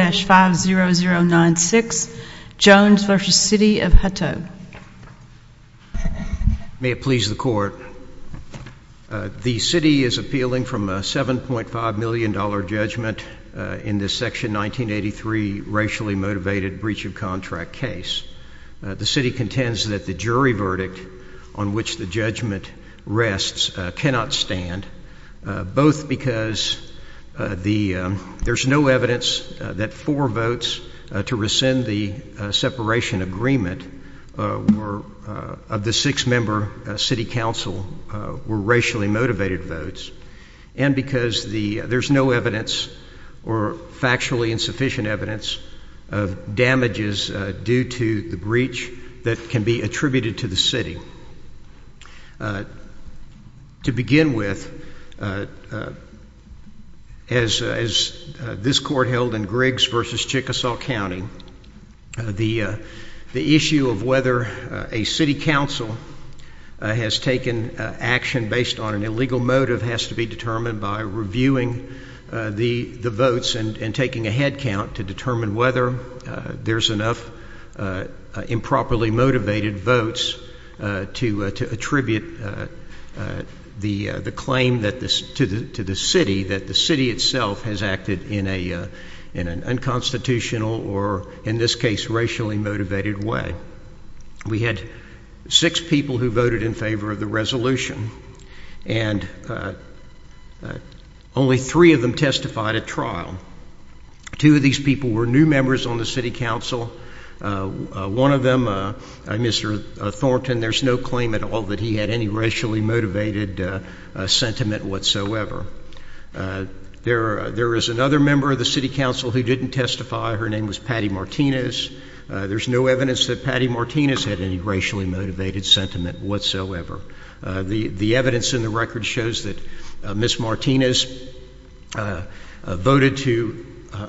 May it please the Court. The City is appealing from a $7.5 million judgment in this Section 1983 racially motivated breach of contract case. The City contends that the jury verdict on which the judgment rests cannot stand, both because there is no evidence that from four votes to rescind the separation agreement of the six-member City Council were racially motivated votes, and because there is no evidence or factually insufficient evidence of damages due to the breach that can be attributed to the City. To begin with, as this Court held in Griggs v. Chickasaw County, the issue of whether a City Council has taken action based on an illegal motive has to be determined by reviewing the votes and taking a head count to determine whether there's enough improperly motivated votes to attribute the claim to the City that the City itself has acted in an unconstitutional or, in this case, racially motivated way. We had six people who voted in favor of the resolution, and only three of them testified at trial. Two of these people were new members on the City Council. One of them, Mr. Thornton, there's no claim at all that he had any racially motivated sentiment whatsoever. There is another member of the City Council who didn't testify. Her name was Patty Martinez. There's no evidence that Patty Martinez had any racially motivated sentiment whatsoever. The evidence in the record shows that Ms. Martinez voted to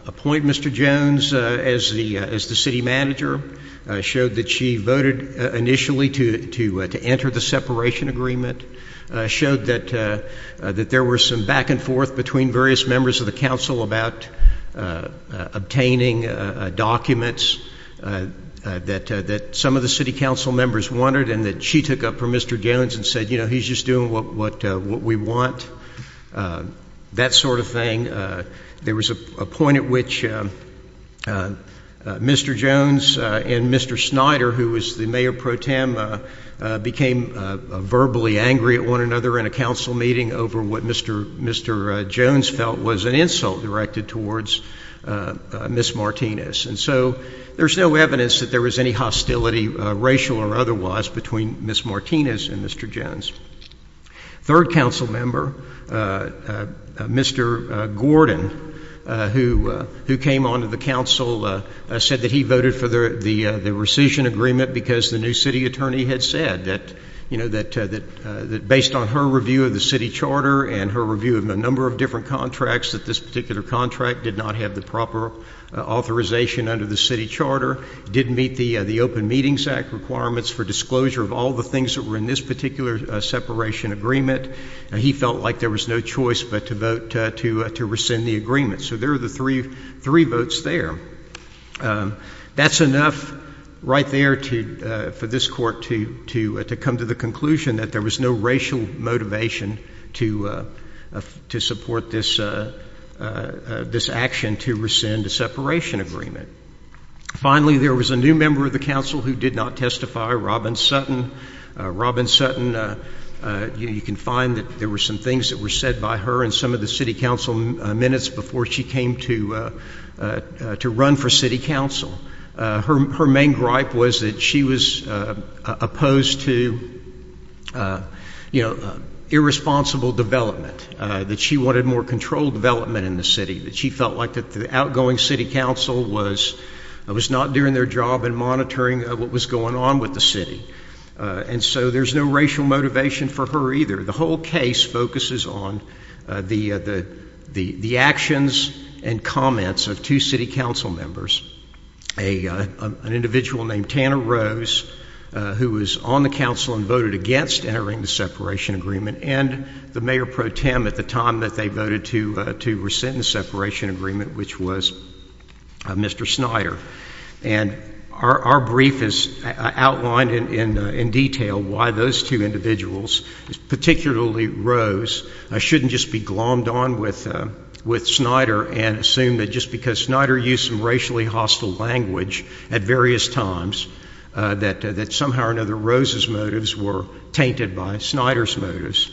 appoint Mr. Jones as the City Manager, showed that she voted initially to enter the separation agreement, showed that there were some back and forth between various members of the Council about obtaining documents that some of the City Council members wanted and that she took up for Mr. Jones and said, you know, he's just doing what we want, that sort of thing. There was a point at which Mr. Jones and Mr. Snyder, who was the Mayor Pro Tem, became verbally angry at one another in a Council meeting over what Mr. Jones felt was an insult directed towards Ms. Martinez. And so there's no evidence that there was any hostility, racial or otherwise, between Ms. Martinez and Mr. Jones. Third Council member, Mr. Gordon, who came on to the Council, said that he voted for the rescission agreement because the new Council, you know, that based on her review of the City Charter and her review of a number of different contracts, that this particular contract did not have the proper authorization under the City Charter, didn't meet the Open Meetings Act requirements for disclosure of all the things that were in this particular separation agreement. He felt like there was no choice but to vote to rescind the agreement. So there are the three votes there. That's enough right there for this Court to come to the conclusion that there was no racial motivation to support this action to rescind a separation agreement. Finally there was a new member of the Council who did not testify, Robin Sutton. Robin Sutton, you can find that there were some things that were said by her in some of the City Council minutes before she came to run for City Council. Her main gripe was that she was opposed to, you know, irresponsible development, that she wanted more controlled development in the City, that she felt like the outgoing City Council was not doing their job in monitoring what was going on with the City. And so there's no racial motivation for her either. The whole case focuses on the actions and comments of two City Council members, an individual named Tanner Rose, who was on the Council and voted against entering the separation agreement, and the Mayor Pro Tem at the time that they voted to rescind the separation agreement, which was Mr. Snyder. And our brief is outlined in detail why those two individuals, particularly Rose, shouldn't just be glommed on with Snyder and assume that just because Snyder used some racially hostile language at various times that somehow or another Rose's motives were tainted by Snyder's motives.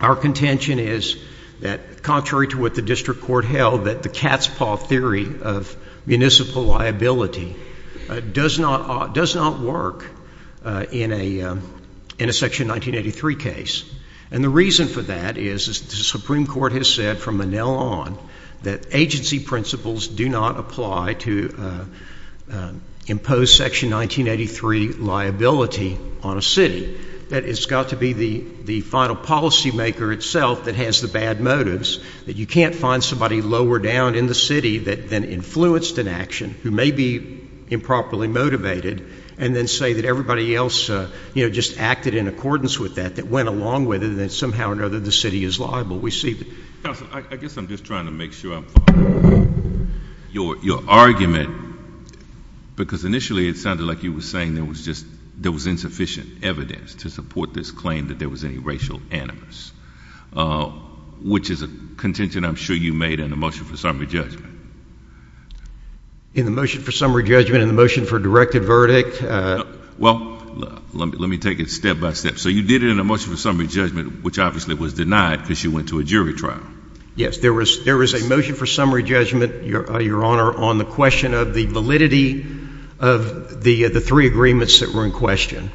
Our contention is that contrary to what the District Court held that the cat's paw theory of municipal liability does not work in a Section 1983 case. And the reason for that is the Supreme Court has said from Manel on that agency principles do not apply to impose Section 1983 liability on a City. That it's got to be the final policy maker itself that has the bad motives, that you can't find somebody lower down in the City that then influenced an action, who may be improperly motivated, and then say that everybody else, you know, just acted in accordance with that, that went along with it, and that somehow or another the City is liable. We see that. Counsel, I guess I'm just trying to make sure I'm following your argument, because initially it sounded like you were saying there was just, there was insufficient evidence to support this claim that there was any racial animus, which is a contention I'm sure you made in the motion for summary judgment. In the motion for summary judgment, in the motion for a directed verdict? Well, let me take it step by step. So you did it in the motion for summary judgment, which obviously was denied because you went to a jury trial. Yes. There was a motion for summary judgment, Your Honor, on the question of the validity of the three agreements that were in question.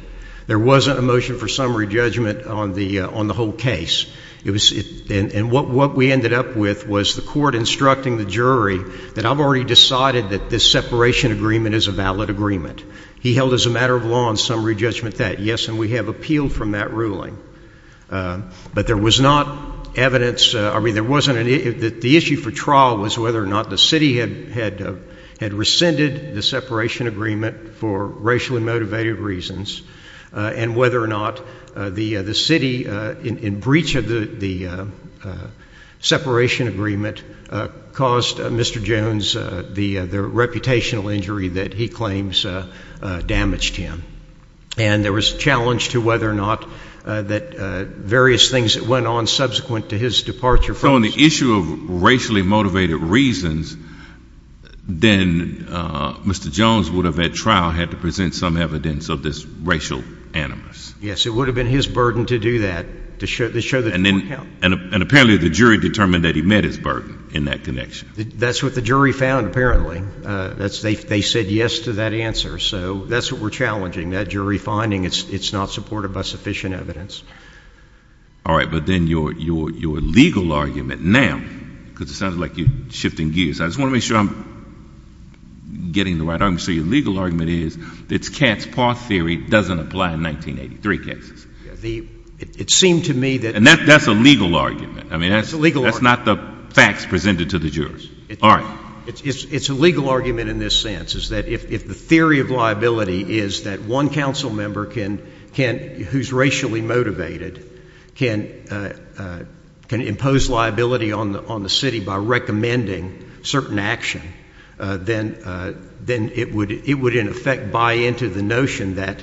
There wasn't a motion for summary judgment on the whole case. And what we ended up with was the court instructing the jury that I've already decided that this separation agreement is a valid agreement. He held as a matter of law on summary judgment that, yes, and we have appealed from that ruling. But there was not evidence, I mean, there wasn't, the issue for trial was whether or not the City had rescinded the separation agreement for racially motivated reasons, and whether or not the City, in breach of the separation agreement, caused Mr. Jones the reputational injury that he claims damaged him. And there was a challenge to whether or not that various things that went on subsequent to his departure from the city. So on the issue of racially motivated reasons, then Mr. Jones would have, at trial, had to present some evidence of this racial animus. Yes, it would have been his burden to do that, to show that the court held. And apparently the jury determined that he met his burden in that connection. That's what the jury found, apparently. They said yes to that answer. So that's what we're challenging, that jury finding it's not supported by sufficient evidence. All right, but then your legal argument now, because it sounds like you're shifting gears, I just want to make sure I'm getting the right argument. So your legal argument is that Katz-Parth theory doesn't apply in 1983 cases? It seemed to me that... And that's a legal argument. I mean, that's not the facts presented to the jurors. All right. It's a legal argument in this sense, is that if the theory of liability is that one council member who's racially motivated can impose liability on the City by recommending certain action, then it would, in effect, buy into the notion that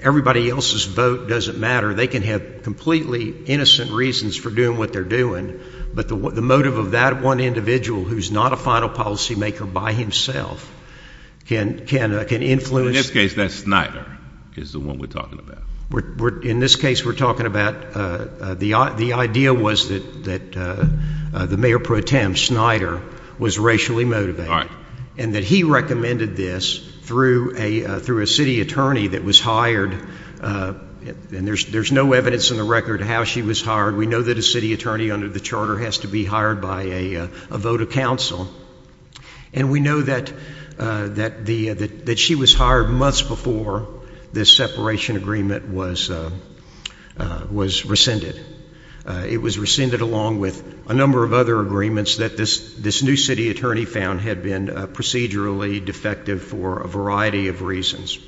everybody else's vote doesn't matter. They can have completely innocent reasons for doing what they're doing, but the motive of that one individual who's not a final policymaker by himself can influence... In this case, that's Snyder, is the one we're talking about. In this case, we're talking about... The idea was that the mayor pro tem, Snyder, was racially motivated, and that he recommended this through a city attorney that was hired, and there's no evidence in the record how she was hired. We know that a city attorney under the Charter has to be hired by a vote of council, and we know that she was hired months before this separation agreement was rescinded. It was rescinded along with a number of other agreements that this new city attorney found had been procedurally defective for a variety of reasons.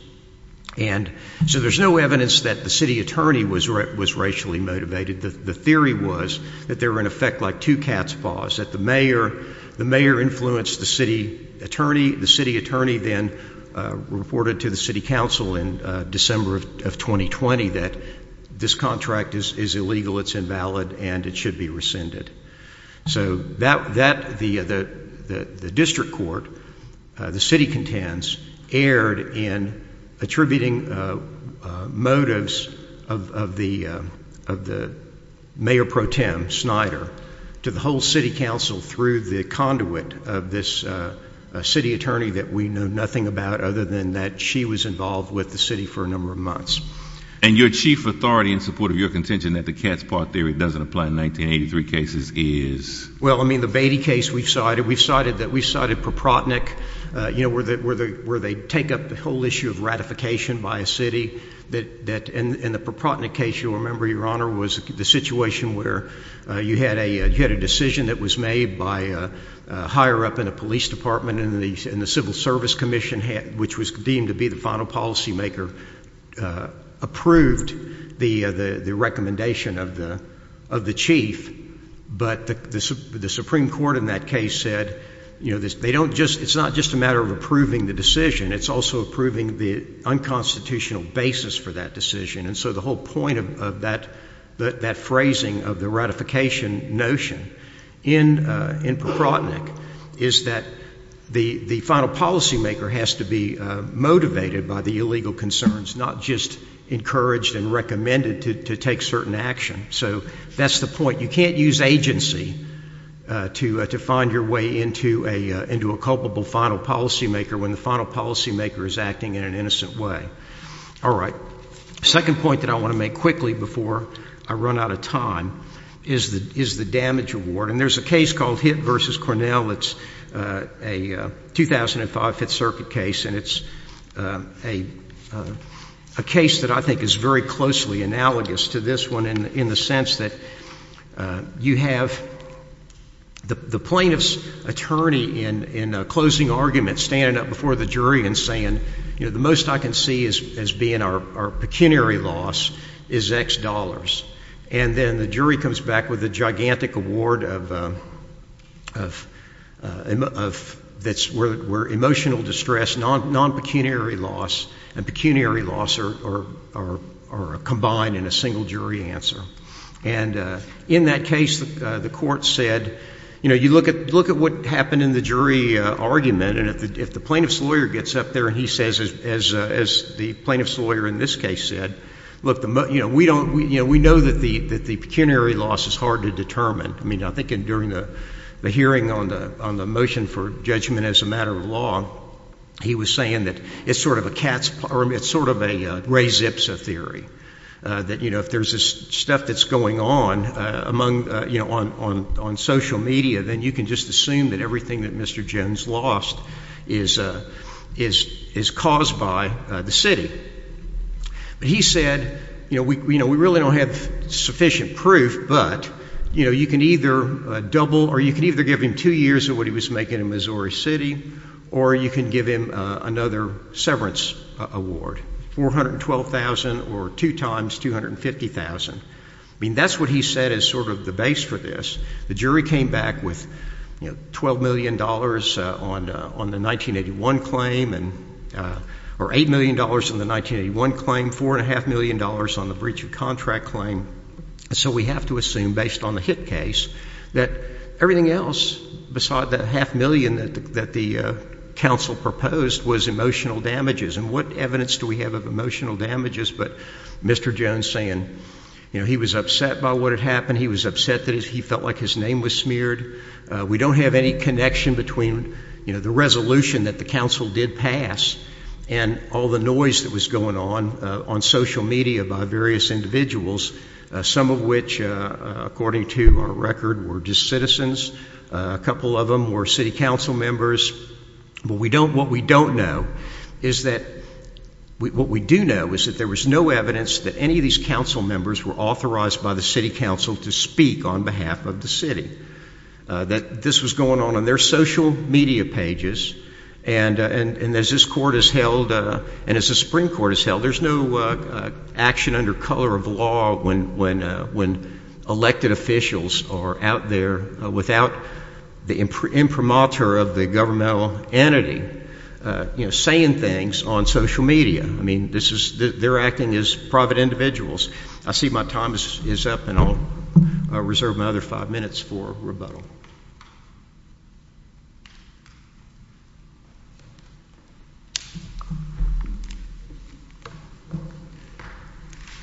And so there's no evidence that the city attorney was racially motivated. The theory was that they were, in effect, like two cat's paws, that the mayor influenced the city attorney. The city attorney then reported to the city council in December of 2020 that this contract is illegal, it's invalid, and it should be rescinded. So the district court, the city contends, erred in attributing motives of the mayor pro tem, Snyder, to the whole city council through the conduit of this city attorney that we know nothing about other than that she was involved with the city for a number of months. And your chief authority in support of your contention that the cat's paw theory doesn't apply in 1983 cases is? Well, I mean, the Beatty case we've cited, we've cited that we've cited Propotnick, you know, where they take up the whole issue of ratification by a city, that in the Propotnick case, you'll remember, Your Honor, was the situation where you had a decision that was made by a higher-up in a police department in the Civil Service Commission, which was deemed to be the final policymaker, approved the recommendation of the chief, but the Supreme Court in that case said, you know, they don't just, it's not just a matter of approving the decision, it's also approving the unconstitutional basis for that decision. And so the whole point of that phrasing of the ratification notion in Propotnick is that the final policymaker has to be motivated by the illegal concerns, not just encouraged and recommended to take certain action. So that's the point. You can't use agency to find your way into a culpable final policymaker when the final policymaker is acting in an innocent way. All right. The second point that I want to make quickly before I run out of time is the damage award. And there's a case called Hitt v. Cornell. It's a 2005 Fifth Circuit case, and it's a case that I think is very closely analogous to this one in the sense that you have the plaintiff's attorney in a closing argument standing up before the jury and saying, you know, the most I can see as being our pecuniary loss is X dollars. And then the jury comes back with a gigantic award of, that's where emotional distress, non-pecuniary loss and pecuniary loss are combined in a single jury answer. And in that case, the court said, you know, you look at what happened in the jury argument, and if the plaintiff's lawyer gets up there and he says, as the plaintiff's lawyer in this case said, look, you know, we know that the pecuniary loss is hard to determine. I mean, I think during the hearing on the motion for judgment as a matter of law, he was saying that it's sort of a Ray Zipsa theory, that, you know, if there's this stuff that's going on among, you know, on social media, then you can just assume that everything that Mr. Jones lost is caused by the city. But he said, you know, we really don't have sufficient proof, but, you know, you can either double or you can either give him two years of what he was making in Missouri City or you can give him another severance award, $412,000 or two times $250,000. I mean, that's what he said as sort of the base for this. The jury came back with, you know, $12 million on the 1981 claim, or $8 million on the 1981 claim, $4.5 million on the breach of contract claim. So we have to assume, based on the Hitt case, that everything else besides that half million that the counsel proposed was emotional damages. And what evidence do we have of emotional damages but Mr. Jones saying, you know, he was upset by what had happened. He was upset that he felt like his name was smeared. We don't have any connection between, you know, the resolution that the counsel did pass and all the noise that was going on on social media by various individuals, some of which, according to our record, were just citizens. A couple of them were city council members. What we don't know is that what we do know is that there was no evidence that any of these council members were authorized by the city council to speak on behalf of the city, that this was going on on their social media pages. And as this court has held, and as the Supreme Court has held, there's no action under color of law when elected officials are out there without the imprimatur of the governmental entity, you know, saying things on social media. I mean, this is, they're acting as private individuals. I see my time is up and I'll reserve my other five minutes for rebuttal.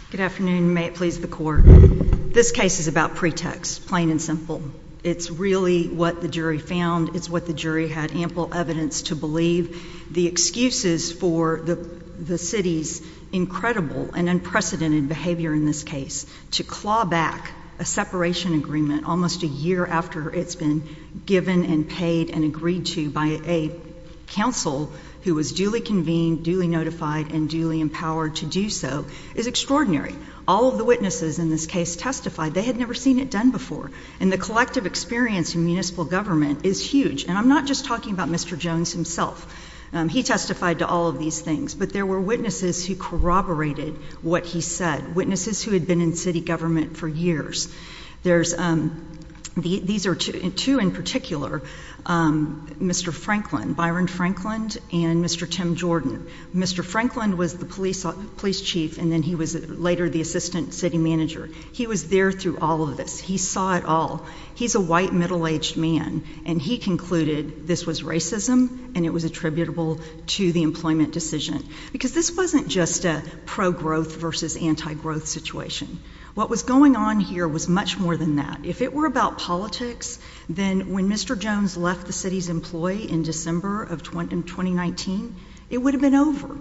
Good afternoon. May it please the Court. This case is about pretext, plain and simple. It's really what the jury found. It's what the jury had ample evidence to believe. The excuses for the city's incredible and unprecedented behavior in this case to claw back a separation agreement almost a year after it's been given and paid and agreed to by a counsel who was duly convened, duly notified and duly empowered to do so is extraordinary. All of the witnesses in this case testified. They had never seen it done before. And the collective experience in municipal government is huge. And I'm not just talking about Mr. Jones himself. He testified to all of these things. But there were witnesses who corroborated what he said, witnesses who had been in city government for years. There's, these are two in particular, Mr. Franklin, Byron Franklin, and Mr. Tim Jordan. Mr. Franklin was the police chief and then he was later the assistant city manager. He was there through all of this. He saw it all. He's a white, middle-aged man. And he concluded this was racism and it was attributable to the employment decision. Because this wasn't just a pro-growth versus anti-growth situation. What was going on here was much more than that. If it were about politics, then when Mr. Jones left the city's employ in December of 2019, it would have been over.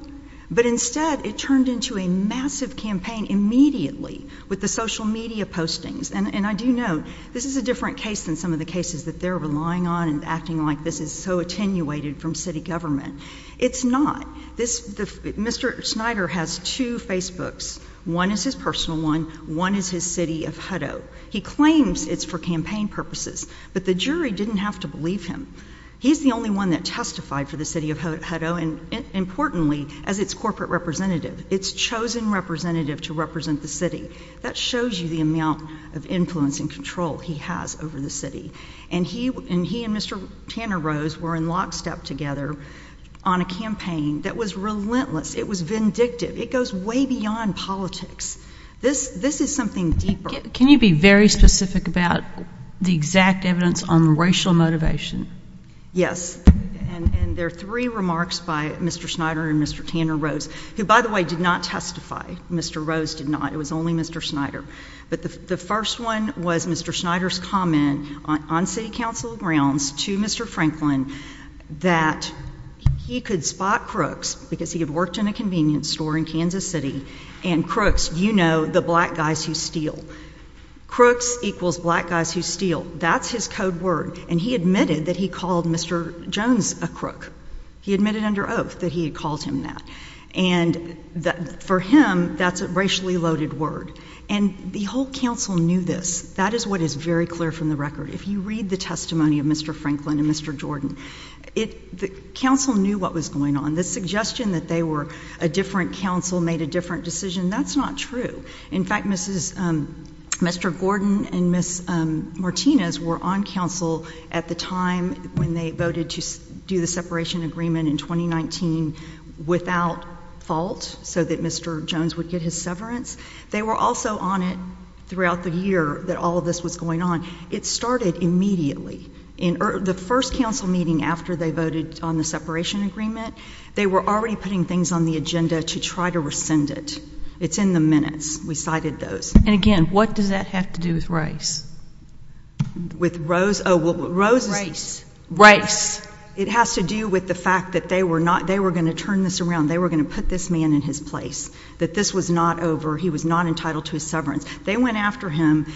But instead, it turned into a massive campaign immediately with the social media postings. And I do note, this is a different case than some of the cases that they're relying on and acting like this is so attenuated from city government. It's not. This, Mr. Snyder has two Facebooks. One is his personal one. One is his city of Hutto. He claims it's for campaign purposes. But the jury didn't have to believe him. He's the only one that testified for the city of Hutto. And importantly, as its corporate representative, its chosen representative to represent the city. That shows you the amount of influence and control he has over the city. And he and Mr. Tanner Rose were in lockstep together on a campaign that was relentless. It was vindictive. It goes way beyond politics. This is something deeper. Can you be very specific about the exact evidence on racial motivation? Yes. And there are three remarks by Mr. Snyder and Mr. Tanner Rose, who, by the way, did not testify. Mr. Rose did not. It was only Mr. Snyder. But the first one was Mr. Snyder's comment on city council grounds to Mr. Franklin that he could spot crooks because he had worked in a convenience store in Kansas City. And crooks, you know, the black guys who steal. Crooks equals black guys who steal. That's his code word. And he admitted that he called Mr. Jones a crook. He admitted under oath that he had called him that. And for him, that's a racially loaded word. And the whole council knew this. That is what is very clear from the record. If you read the testimony of Mr. Franklin and Mr. Jordan, the council knew what was going on. The suggestion that they were a different council made a different decision, that's not true. In fact, Mr. Gordon and Ms. Martinez were on council at the time when they voted to do the separation agreement in 2019 without fault so that Mr. Jones would get his severance. They were also on it throughout the year that all of this was going on. It started immediately. The first council meeting after they voted on the separation agreement, they were already putting things on the agenda to try to rescind it. It's in the minutes. We cited those. And again, what does that have to do with race? With Rose? Oh, well, Rose's... Race. It has to do with the fact that they were not, they were going to turn this around. They were going to put this man in his place. That this was not over. He was not entitled to his severance. They went after him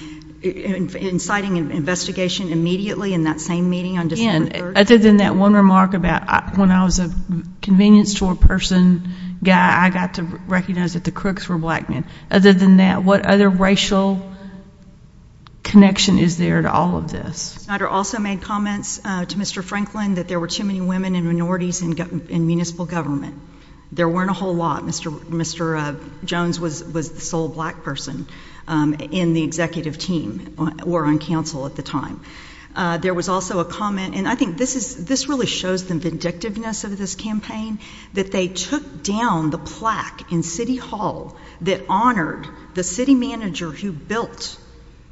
inciting an investigation immediately in that same meeting on December 3rd. And other than that one remark about when I was a convenience store person guy, I got to recognize that the crooks were black men. Other than that, what other racial connection is there to all of this? Snyder also made comments to Mr. Franklin that there were too many women and minorities in municipal government. There weren't a whole lot. Mr. Jones was the sole black person in the executive team or on council at the time. There was also a comment, and I think this really shows the vindictiveness of this campaign, that they took down the plaque in city hall that honored the city manager who built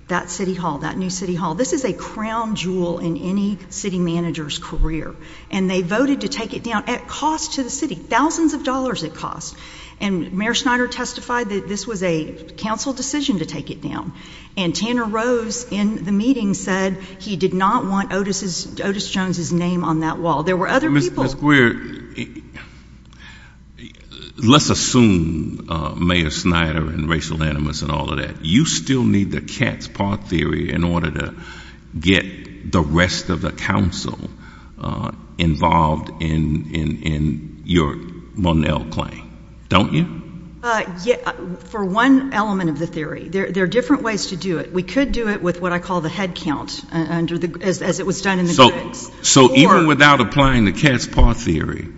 that city hall, that new city hall. This is a crown jewel in any city manager's career. And they voted to take it down at cost to the city. Thousands of dollars it cost. And Mayor Snyder testified that this was a council decision to take it down. And Tanner Rose in the meeting said he did not want Otis Jones's name on that wall. There were other people. Ms. Grier, let's assume Mayor Snyder and racial animus and all of that. You still need the Katz-Parr theory in order to get the rest of the council involved in your Monell claim, don't you? For one element of the theory. There are different ways to do it. We could do it with what I said. So even without applying the Katz-Parr theory,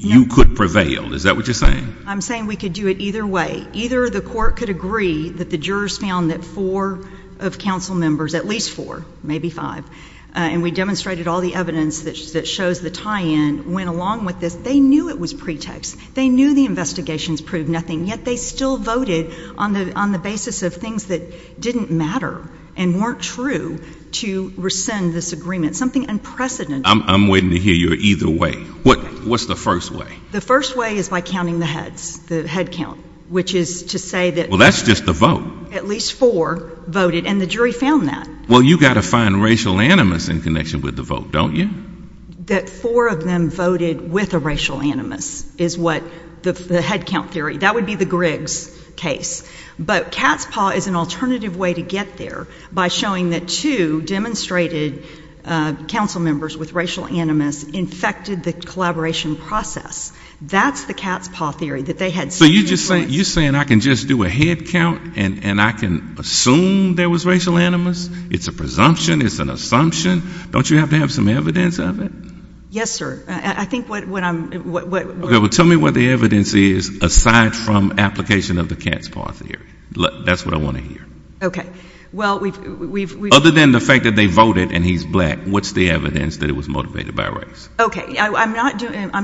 you could prevail. Is that what you're saying? I'm saying we could do it either way. Either the court could agree that the jurors found that four of council members, at least four, maybe five, and we demonstrated all the evidence that shows the tie-in went along with this. They knew it was pretext. They knew the investigations proved nothing. Yet they still voted on the basis of things that didn't matter and weren't true to rescind this agreement, something unprecedented. I'm waiting to hear your either way. What's the first way? The first way is by counting the heads, the head count, which is to say that at least four voted and the jury found that. Well, you've got to find racial animus in connection with the vote, don't you? That four of them voted with a racial animus is what the head count theory. That would be the Griggs case. But Katz-Parr is an alternative way to get there by showing that two demonstrated council members with racial animus infected the collaboration process. That's the Katz-Parr theory, that they had something in common. So you're saying I can just do a head count and I can assume there was racial animus? It's a presumption. It's an assumption. Don't you have to have some evidence of it? Yes, sir. I think what I'm... Okay. Well, tell me what the evidence is aside from application of the Katz-Parr theory. That's what I want to hear. Okay. Well, we've... Other than the fact that they voted and he's black, what's the evidence that it was motivated by race? Okay. I'm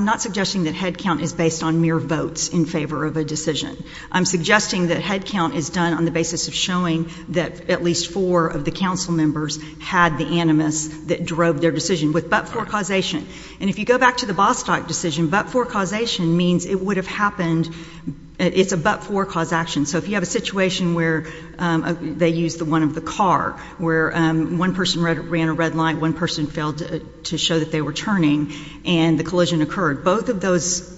not suggesting that head count is based on mere votes in favor of a decision. I'm suggesting that head count is done on the basis of showing that at least four of the council members had the animus that drove their decision with but-for causation. And if you go back to the Bostock decision, but-for causation means it would have happened... It's a but-for cause action. So if you have a situation where they used the one of the car, where one person ran a red light, one person failed to show that they were turning, and the collision occurred, both of those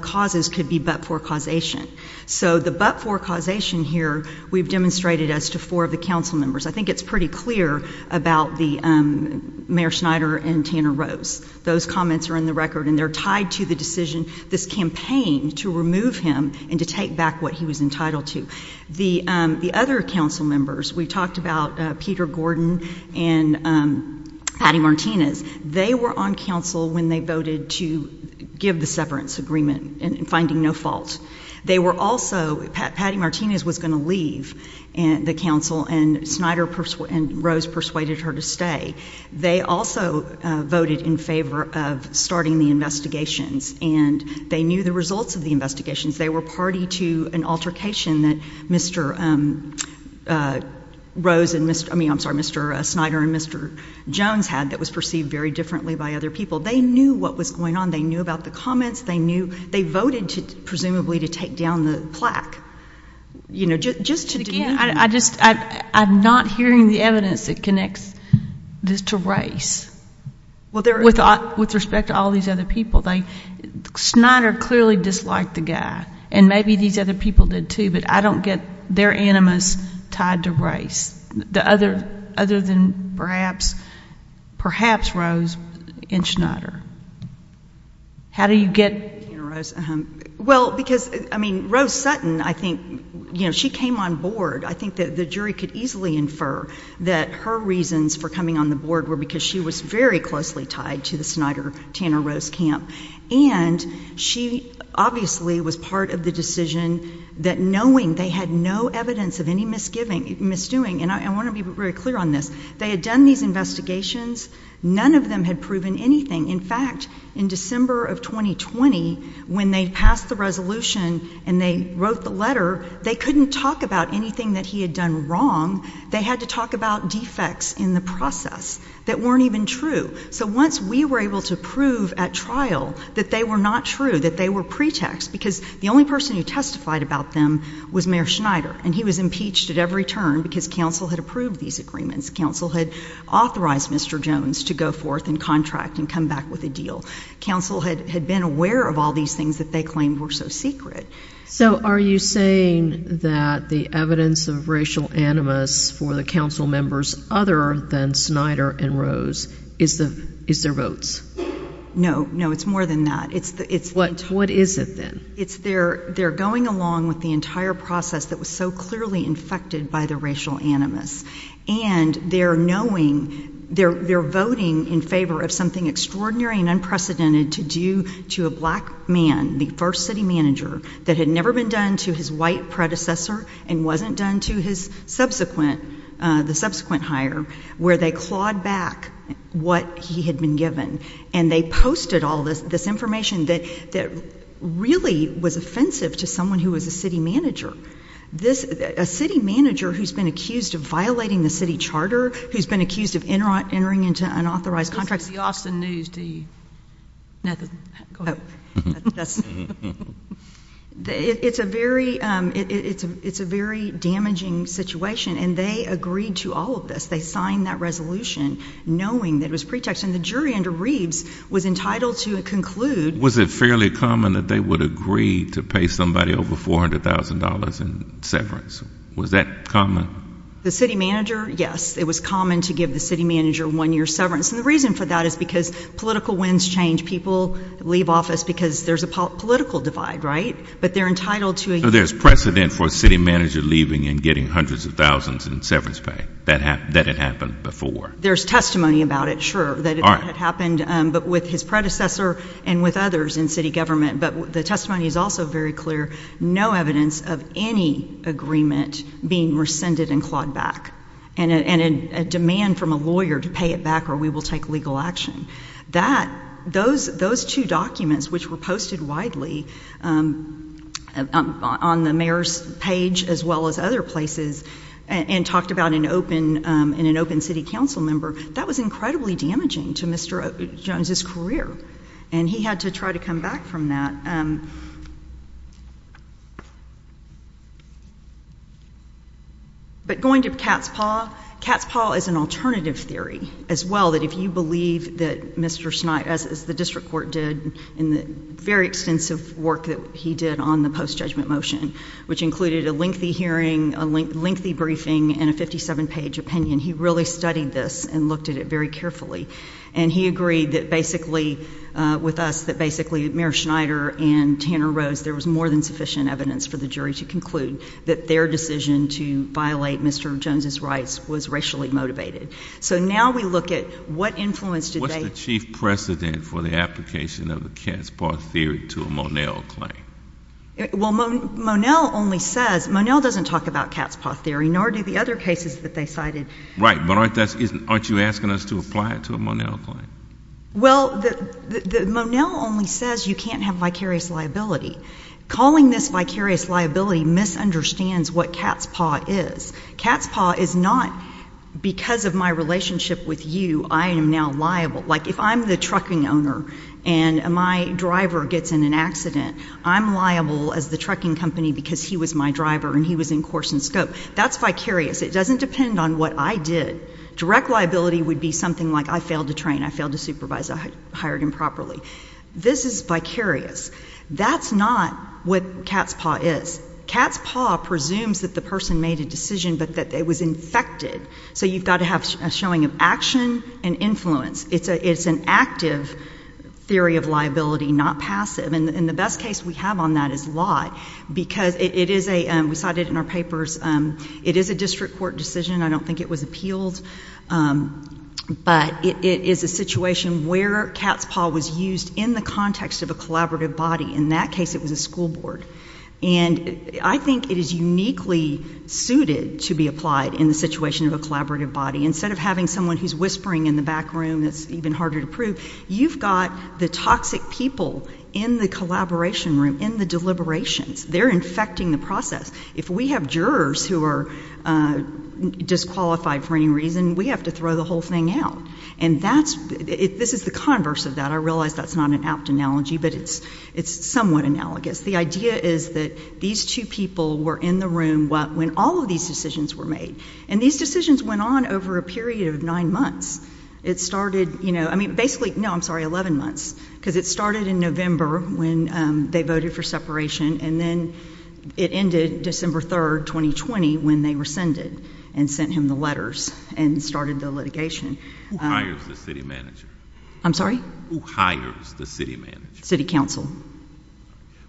causes could be but-for causation. So the but-for causation here, we've demonstrated as to four of the council members. I think it's pretty clear about the Mayor Schneider and Tanner Rose. Those comments are in the record and they're tied to the decision, this campaign to remove him and to take back what he was entitled to. The other council members, we talked about Peter Gordon and Patty Martinez. They were on council when they voted to give the severance agreement and finding no fault. They were also... Patty Martinez was going to leave the council and Schneider and Rose persuaded her to stay. They also voted in favor of starting the investigations and they knew the results of the investigations. They were party to an altercation that Mr. Schneider and Mr. Jones had that was perceived very differently by other people. They knew what was going on. They knew about the comments. They voted, presumably, to take down the plaque, just to... Again, I'm not hearing the evidence that connects this to race with respect to all these other people. Schneider clearly disliked the guy and maybe these other people did, too, but I don't get their animus tied to race, other than perhaps Rose and Schneider. How do you get... Well, because, I mean, Rose Sutton, I think, you know, she came on board. I think that the jury could easily infer that her reasons for coming on the board were because she was very closely tied to the Schneider-Tanner-Rose camp and she obviously was part of the decision that knowing they had no evidence of any misgiving, misdoing, and I want to be very clear on this, they had done these investigations. None of them had proven anything. In fact, in December of 2020, when they passed the resolution and they wrote the letter, they couldn't talk about anything that he had done wrong. They had to talk about defects in the process that weren't even true. So once we were able to prove at trial that they were not true, that they were pretext, because the only person who testified about them was Mayor Schneider and he was impeached at every turn because council had approved these agreements. Council had authorized Mr. Jones to go forth and contract and come back with a deal. Council had been aware of all these things that they claimed were so secret. So are you saying that the evidence of racial animus for the council members, other than Schneider and Rose, is their votes? No, no, it's more than that. What is it then? They're going along with the entire process that was so clearly infected by the racial animus. And they're voting in favor of something extraordinary and unprecedented to do to a black man, the first city manager, that had never been done to his white predecessor and wasn't done to the subsequent hire, where they clawed back what he had been given. And they posted all this information that really was offensive to someone who was a city manager. A city manager who's been accused of violating the city charter, who's been accused of entering into unauthorized contracts. This is the Austin News, do you know? It's a very damaging situation. And they agreed to all of this. They signed that resolution knowing that it was pretext. And the jury under Reeves was entitled to conclude... Was it fairly common that they would agree to pay somebody over $400,000 in severance? Was that common? The city manager, yes. It was common to give the city manager one year's severance. And the reason for that is because political winds change. People leave office because there's a political divide, right? But they're entitled to... There's precedent for a city manager leaving and getting hundreds of thousands in severance pay. That had happened before. There's testimony about it, sure, that it had happened. But with his predecessor and with others in city government. But the testimony is also very clear. No evidence of any agreement being rescinded and clawed back. And a demand from a lawyer to pay it back or we will take legal action. Those two documents, which were posted widely on the mayor's page as well as other places and talked about in an open city council member, that was incredibly damaging to Mr. Jones's career. And he had to try to come back from that. But going to Cat's Paw, Cat's Paw is an alternative theory as well, that if you believe that Mr. Schneit, as the district court did in the very extensive work that he did on the post-judgment motion, which included a lengthy hearing, a lengthy briefing, and a 57-page opinion, he really studied this and looked at it very carefully. And he agreed that basically with us, that basically Mayor Schneider and Tanner Rose, there was more than sufficient evidence for the jury to conclude that their decision to violate Mr. Jones's rights was racially motivated. So now we look at what influence did they... What's the chief precedent for the application of the Cat's Paw theory to a Monell claim? Well, Monell only says... Monell doesn't talk about Cat's Paw theory, nor do the other cases that they cited. Right, but aren't you asking us to apply it to a Monell claim? Well, Monell only says you can't have vicarious liability. Calling this vicarious liability misunderstands what Cat's Paw is. Cat's Paw is not because of my relationship with you, I am now liable. Like if I'm the trucking owner and my driver gets in an accident, I'm liable as the trucking company because he was my driver and he was in course and scope. That's vicarious. It doesn't depend on what I did. Direct liability would be something like I failed to train, I failed to supervise, I hired improperly. This is vicarious. That's not what Cat's Paw is. Cat's Paw presumes that the person made a decision but that it was infected. So you've got to have a showing of action and influence. It's an active theory of liability, not passive. And the best case we have on that is Lott. Because it is a, we cited it in our papers, it is a district court decision. I don't think it was appealed. But it is a situation where Cat's Paw was used in the context of a collaborative body. In that case it was a school board. And I think it is uniquely suited to be applied in the situation of a collaborative body. Instead of having someone who's whispering in the back room that's even harder to prove, you've got the toxic people in the collaboration room, in the deliberations. They're infecting the process. If we have jurors who are disqualified for any reason, we have to throw the whole thing out. And that's, this is the converse of that. I realize that's not an apt analogy but it's somewhat analogous. The idea is that these two people were in the room when all of these decisions were made. And these decisions went on over a period of nine months. It started, you know, I mean, basically, no, I'm sorry, 11 months. Because it started in November when they voted for separation and then it ended December 3rd, 2020 when they rescinded and sent him the letters and started the litigation. Who hires the city manager? I'm sorry? Who hires the city manager? City council.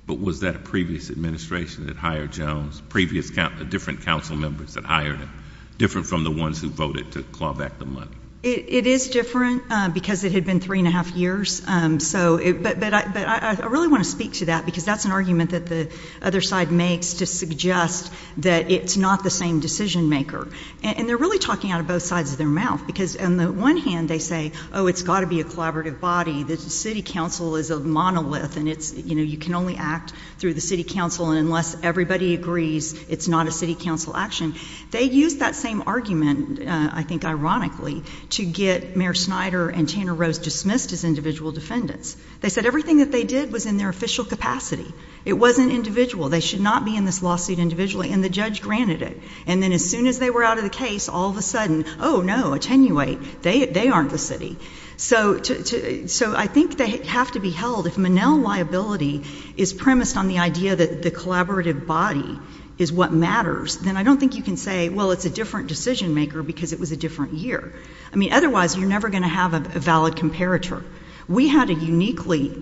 But was that a previous administration that hired Jones? Previous, different council members that hired him? Different from the ones who voted to claw back the money? It is different because it had been three and a half years. So, but I really want to speak to that because that's an argument that the other side makes to suggest that it's not the same decision maker. And they're really talking out of both sides of their mouth. Because on the one hand, they say, oh, it's got to be a collaborative body. The city council is a monolith and it's, you know, you can only act through the city council and unless everybody agrees, it's not a city council action. They used that same argument, I think ironically, to get Mayor Snyder and Tanner Rose dismissed as individual defendants. They said everything that they did was in their official capacity. It wasn't individual. They should not be in this lawsuit individually. And the judge granted it. And then as soon as they were out of the case, all of a sudden, oh, no, attenuate. They aren't the city. So I think they have to be held. If Manel liability is premised on the idea that the collaborative body is what matters, then I don't think you can say, well, it's a different decision maker because it was a different year. I mean, otherwise, you're never going to have a valid comparator. We had a uniquely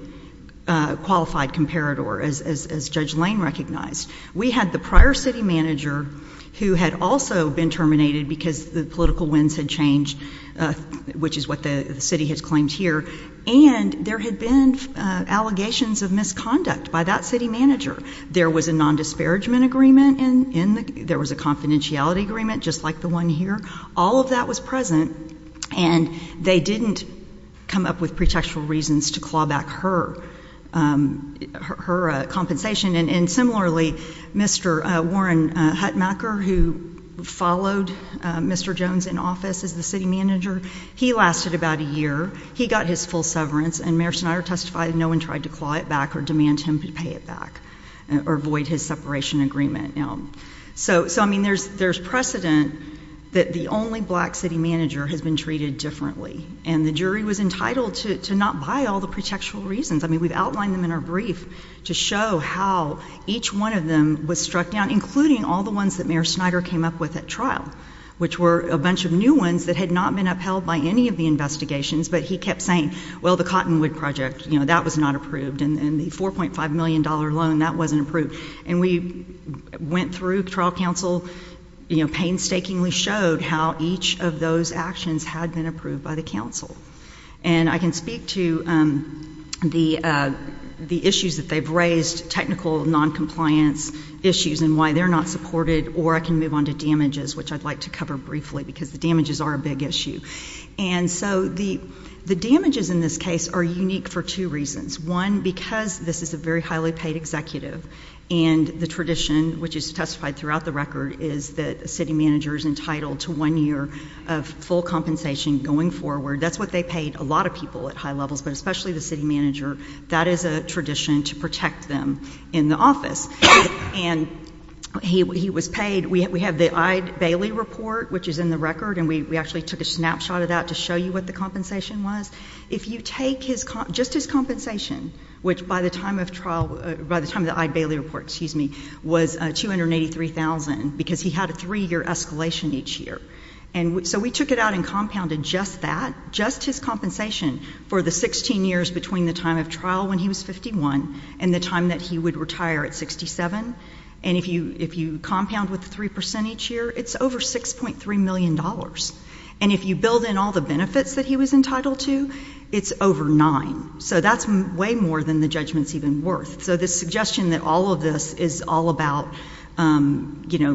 qualified comparator, as Judge Lane recognized. We had the prior city manager who had also been terminated because the political winds had changed, which is what the city has claimed here. And there had been allegations of misconduct by that city manager. There was a non-disparagement agreement. There was a confidentiality agreement, just like the one here. All of that was present. And they didn't come up with pretextual reasons to claw back her compensation. And similarly, Mr. Warren Hutmacher, who followed Mr. Jones in office as the city manager, he lasted about a year. He got his full severance. And Mayor Snyder testified that no one tried to claw it back or demand him to pay it back or void his separation agreement. So, I mean, there's precedent that the only black city manager has been treated differently. And the jury was entitled to not buy all the pretextual reasons. I mean, we've outlined them in our brief to show how each one of them was struck down, including all the ones that Mayor Snyder came up with at trial, which were a bunch of new ones that had not been upheld by any of the investigations. But he kept saying, well, the Cottonwood Project, you know, that was not approved. And the $4.5 million loan, that wasn't approved. And we went through, trial counsel, you know, painstakingly showed how each of those actions had been approved by the counsel. And I can speak to the issues that they've raised, technical noncompliance issues and why they're not supported, or I can move on to damages, which I'd like to cover briefly, because the damages are a big issue. And so the damages in this case are unique for two reasons. One, because this is a very highly paid executive, and the tradition, which is testified throughout the record, is that a city manager is entitled to one year of full compensation going forward. That's what they paid a lot of people at high levels, but especially the city manager. That is a tradition to protect them in the office. And he was paid, we have the Ide Bailey report, which is in the record, and we actually took a snapshot of that to show you what the compensation was. If you take his, just his compensation, which by the time of trial, by the time of the Ide Bailey report, excuse me, was $283,000, because he had a three-year escalation each year. And so we took it out and compounded just that, just his compensation for the 16 years between the time of trial when he was 51 and the time that he would retire at 67. And if you compound with the 3% each year, it's over $6.3 million. And if you build in all the benefits that he was entitled to, it's over 9. So that's way more than the judgment's even worth. So this suggestion that all of this is all about, you know,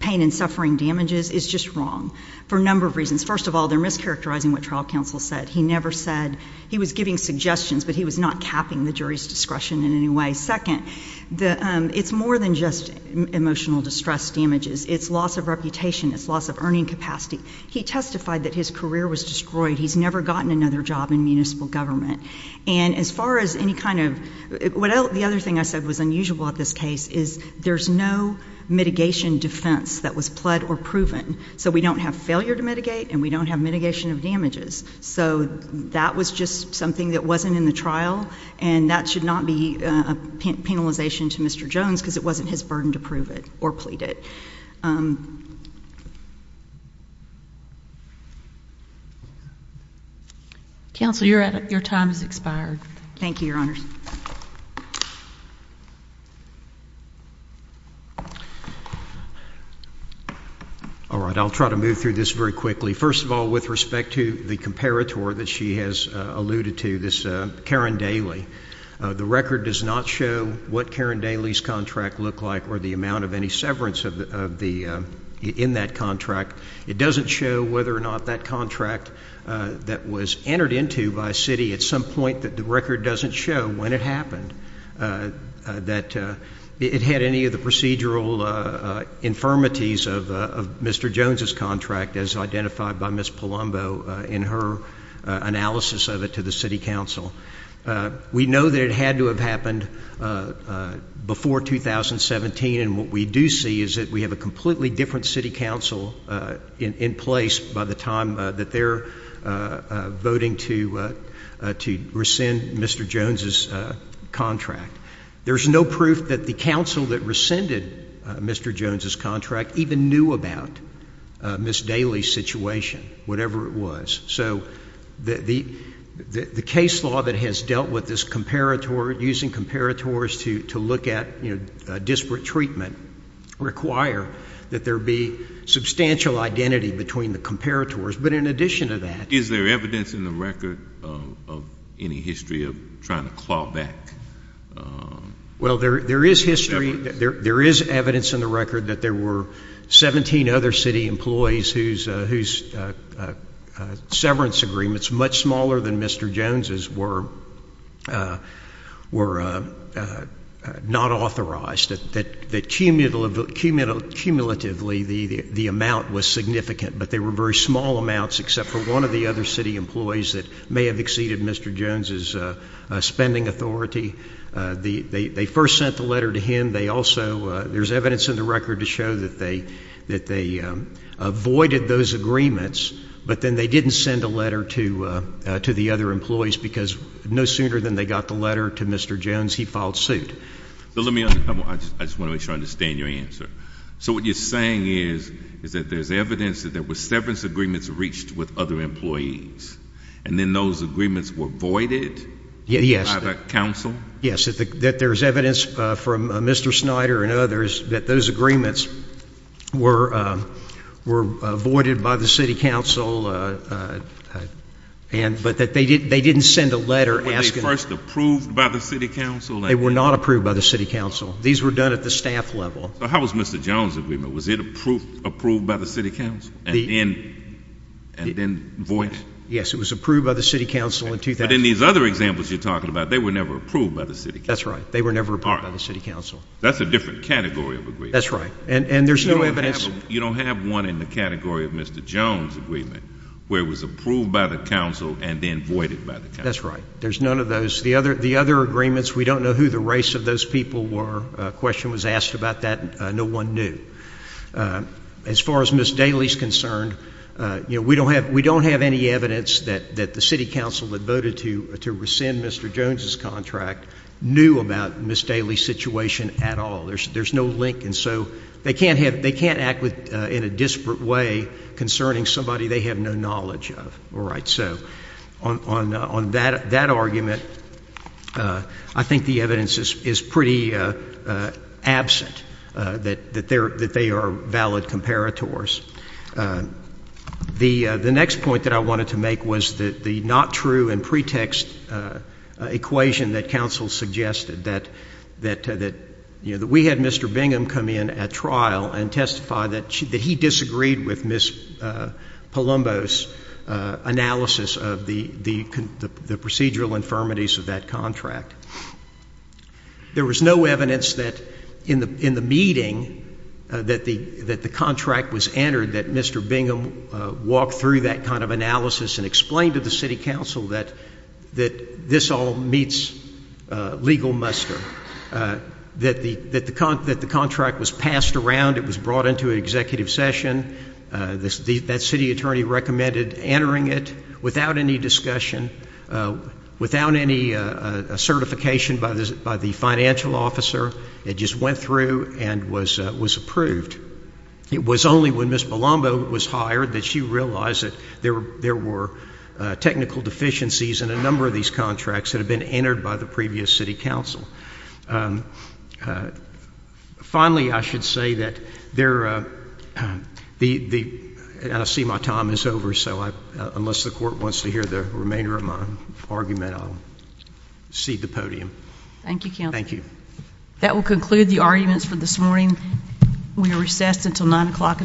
pain and suffering damages is just wrong for a number of reasons. First of all, they're mischaracterizing what the trial counsel said. He never said, he was giving suggestions, but he was not capping the jury's discretion in any way. Second, it's more than just emotional distress damages. It's loss of reputation. It's loss of earning capacity. He testified that his career was destroyed. He's never gotten another job in municipal government. And as far as any kind of, what else, the other thing I said was unusual about this case is there's no mitigation defense that was pled or proven. So we don't have failure to mitigate and we don't have mitigation of damages. So that was just something that wasn't in the trial and that should not be a penalization to Mr. Jones because it wasn't his burden to prove it or plead it. Counsel, you're at, your time has expired. Thank you, Your Honors. All right. I'll try to move through this very quickly. First of all, with respect to the comparator that she has alluded to, this Karen Daly, the record does not show what Karen Daly's contract looked like or the amount of any severance of the, in that contract. It doesn't show whether or not that contract that was entered into by Citi at some point that the record doesn't show when it happened, that it had any of the procedural infirmities of Mr. Jones's contract as identified by Ms. Palumbo in her analysis of it to the City Council. We know that it had to have happened before 2017 and what we do see is that we have a completely different City Council in place by the time that they're voting to rescind Mr. Jones's contract. There's no proof that the council that rescinded Mr. Jones's contract even knew about Ms. Daly's situation, whatever it was. So the case law that has dealt with this comparator, using comparators to look at disparate treatment, require that there be substantial identity between the comparators. But in addition to Is there evidence in the record of any history of trying to claw back? Well, there is history, there is evidence in the record that there were 17 other City employees whose severance agreements, much smaller than Mr. Jones's, were not authorized, that cumulatively the amount was significant, but they were very small amounts except for one of the other City employees that may have exceeded Mr. Jones's spending authority. They first sent the letter to him, they also, there's evidence in the record to show that they avoided those agreements, but then they didn't send a letter to the other employees because no sooner than they got the letter to Mr. Jones, he filed suit. I just want to make sure I understand your answer. So what you're saying is that there's evidence that there were severance agreements reached with other employees, and then those agreements were voided? Yes. By the Council? Yes, that there's evidence from Mr. Snyder and others that those agreements were avoided by the City Council, but that they didn't send a letter asking them. Were they first approved by the City Council? They were not approved by the City Council. These were done at the staff level. So how was Mr. Jones's agreement? Was it approved by the City Council and then voided? Yes, it was approved by the City Council in 2000. But in these other examples you're talking about, they were never approved by the City Council. That's right. They were never approved by the City Council. That's a different category of agreement. That's right. And there's no evidence. You don't have one in the category of Mr. Jones's agreement where it was approved by the Council and then voided by the Council. That's right. There's none of those. The other agreements, we don't know who the race of those people were. A question was asked about that. No one knew. As far as Ms. Daly's concerned, we don't have any evidence that the City Council that voted to rescind Mr. Jones's contract knew about Ms. Daly's situation at all. There's no link. And so they can't act in a disparate way concerning somebody they have no knowledge of. All right. So on that argument, I think the evidence is pretty absent that they are valid comparators. The next point that I wanted to make was the not true and pretext equation that Council suggested, that we had Mr. Bingham come in at trial and testify that he disagreed with Ms. Palumbo's analysis of the procedural infirmities of that contract. There was no evidence that in the meeting that the contract was entered that Mr. Bingham walked through that kind of analysis and explained to the City Council that this all meets legal muster, that the contract was passed around, it was brought into an executive session. That city attorney recommended entering it without any discussion, without any certification by the financial officer. It just went through and was approved. It was only when Ms. Palumbo was hired that she realized that there were technical deficiencies in a number of these contracts that had been entered by the previous City Council. Finally, I should say that they're, I see my time is over, so unless the Court wants to hear the remainder of my argument, I'll cede the podium. Thank you, Counsel. Thank you. That will conclude the arguments for this morning. We are recessed until 9 o'clock in the morning.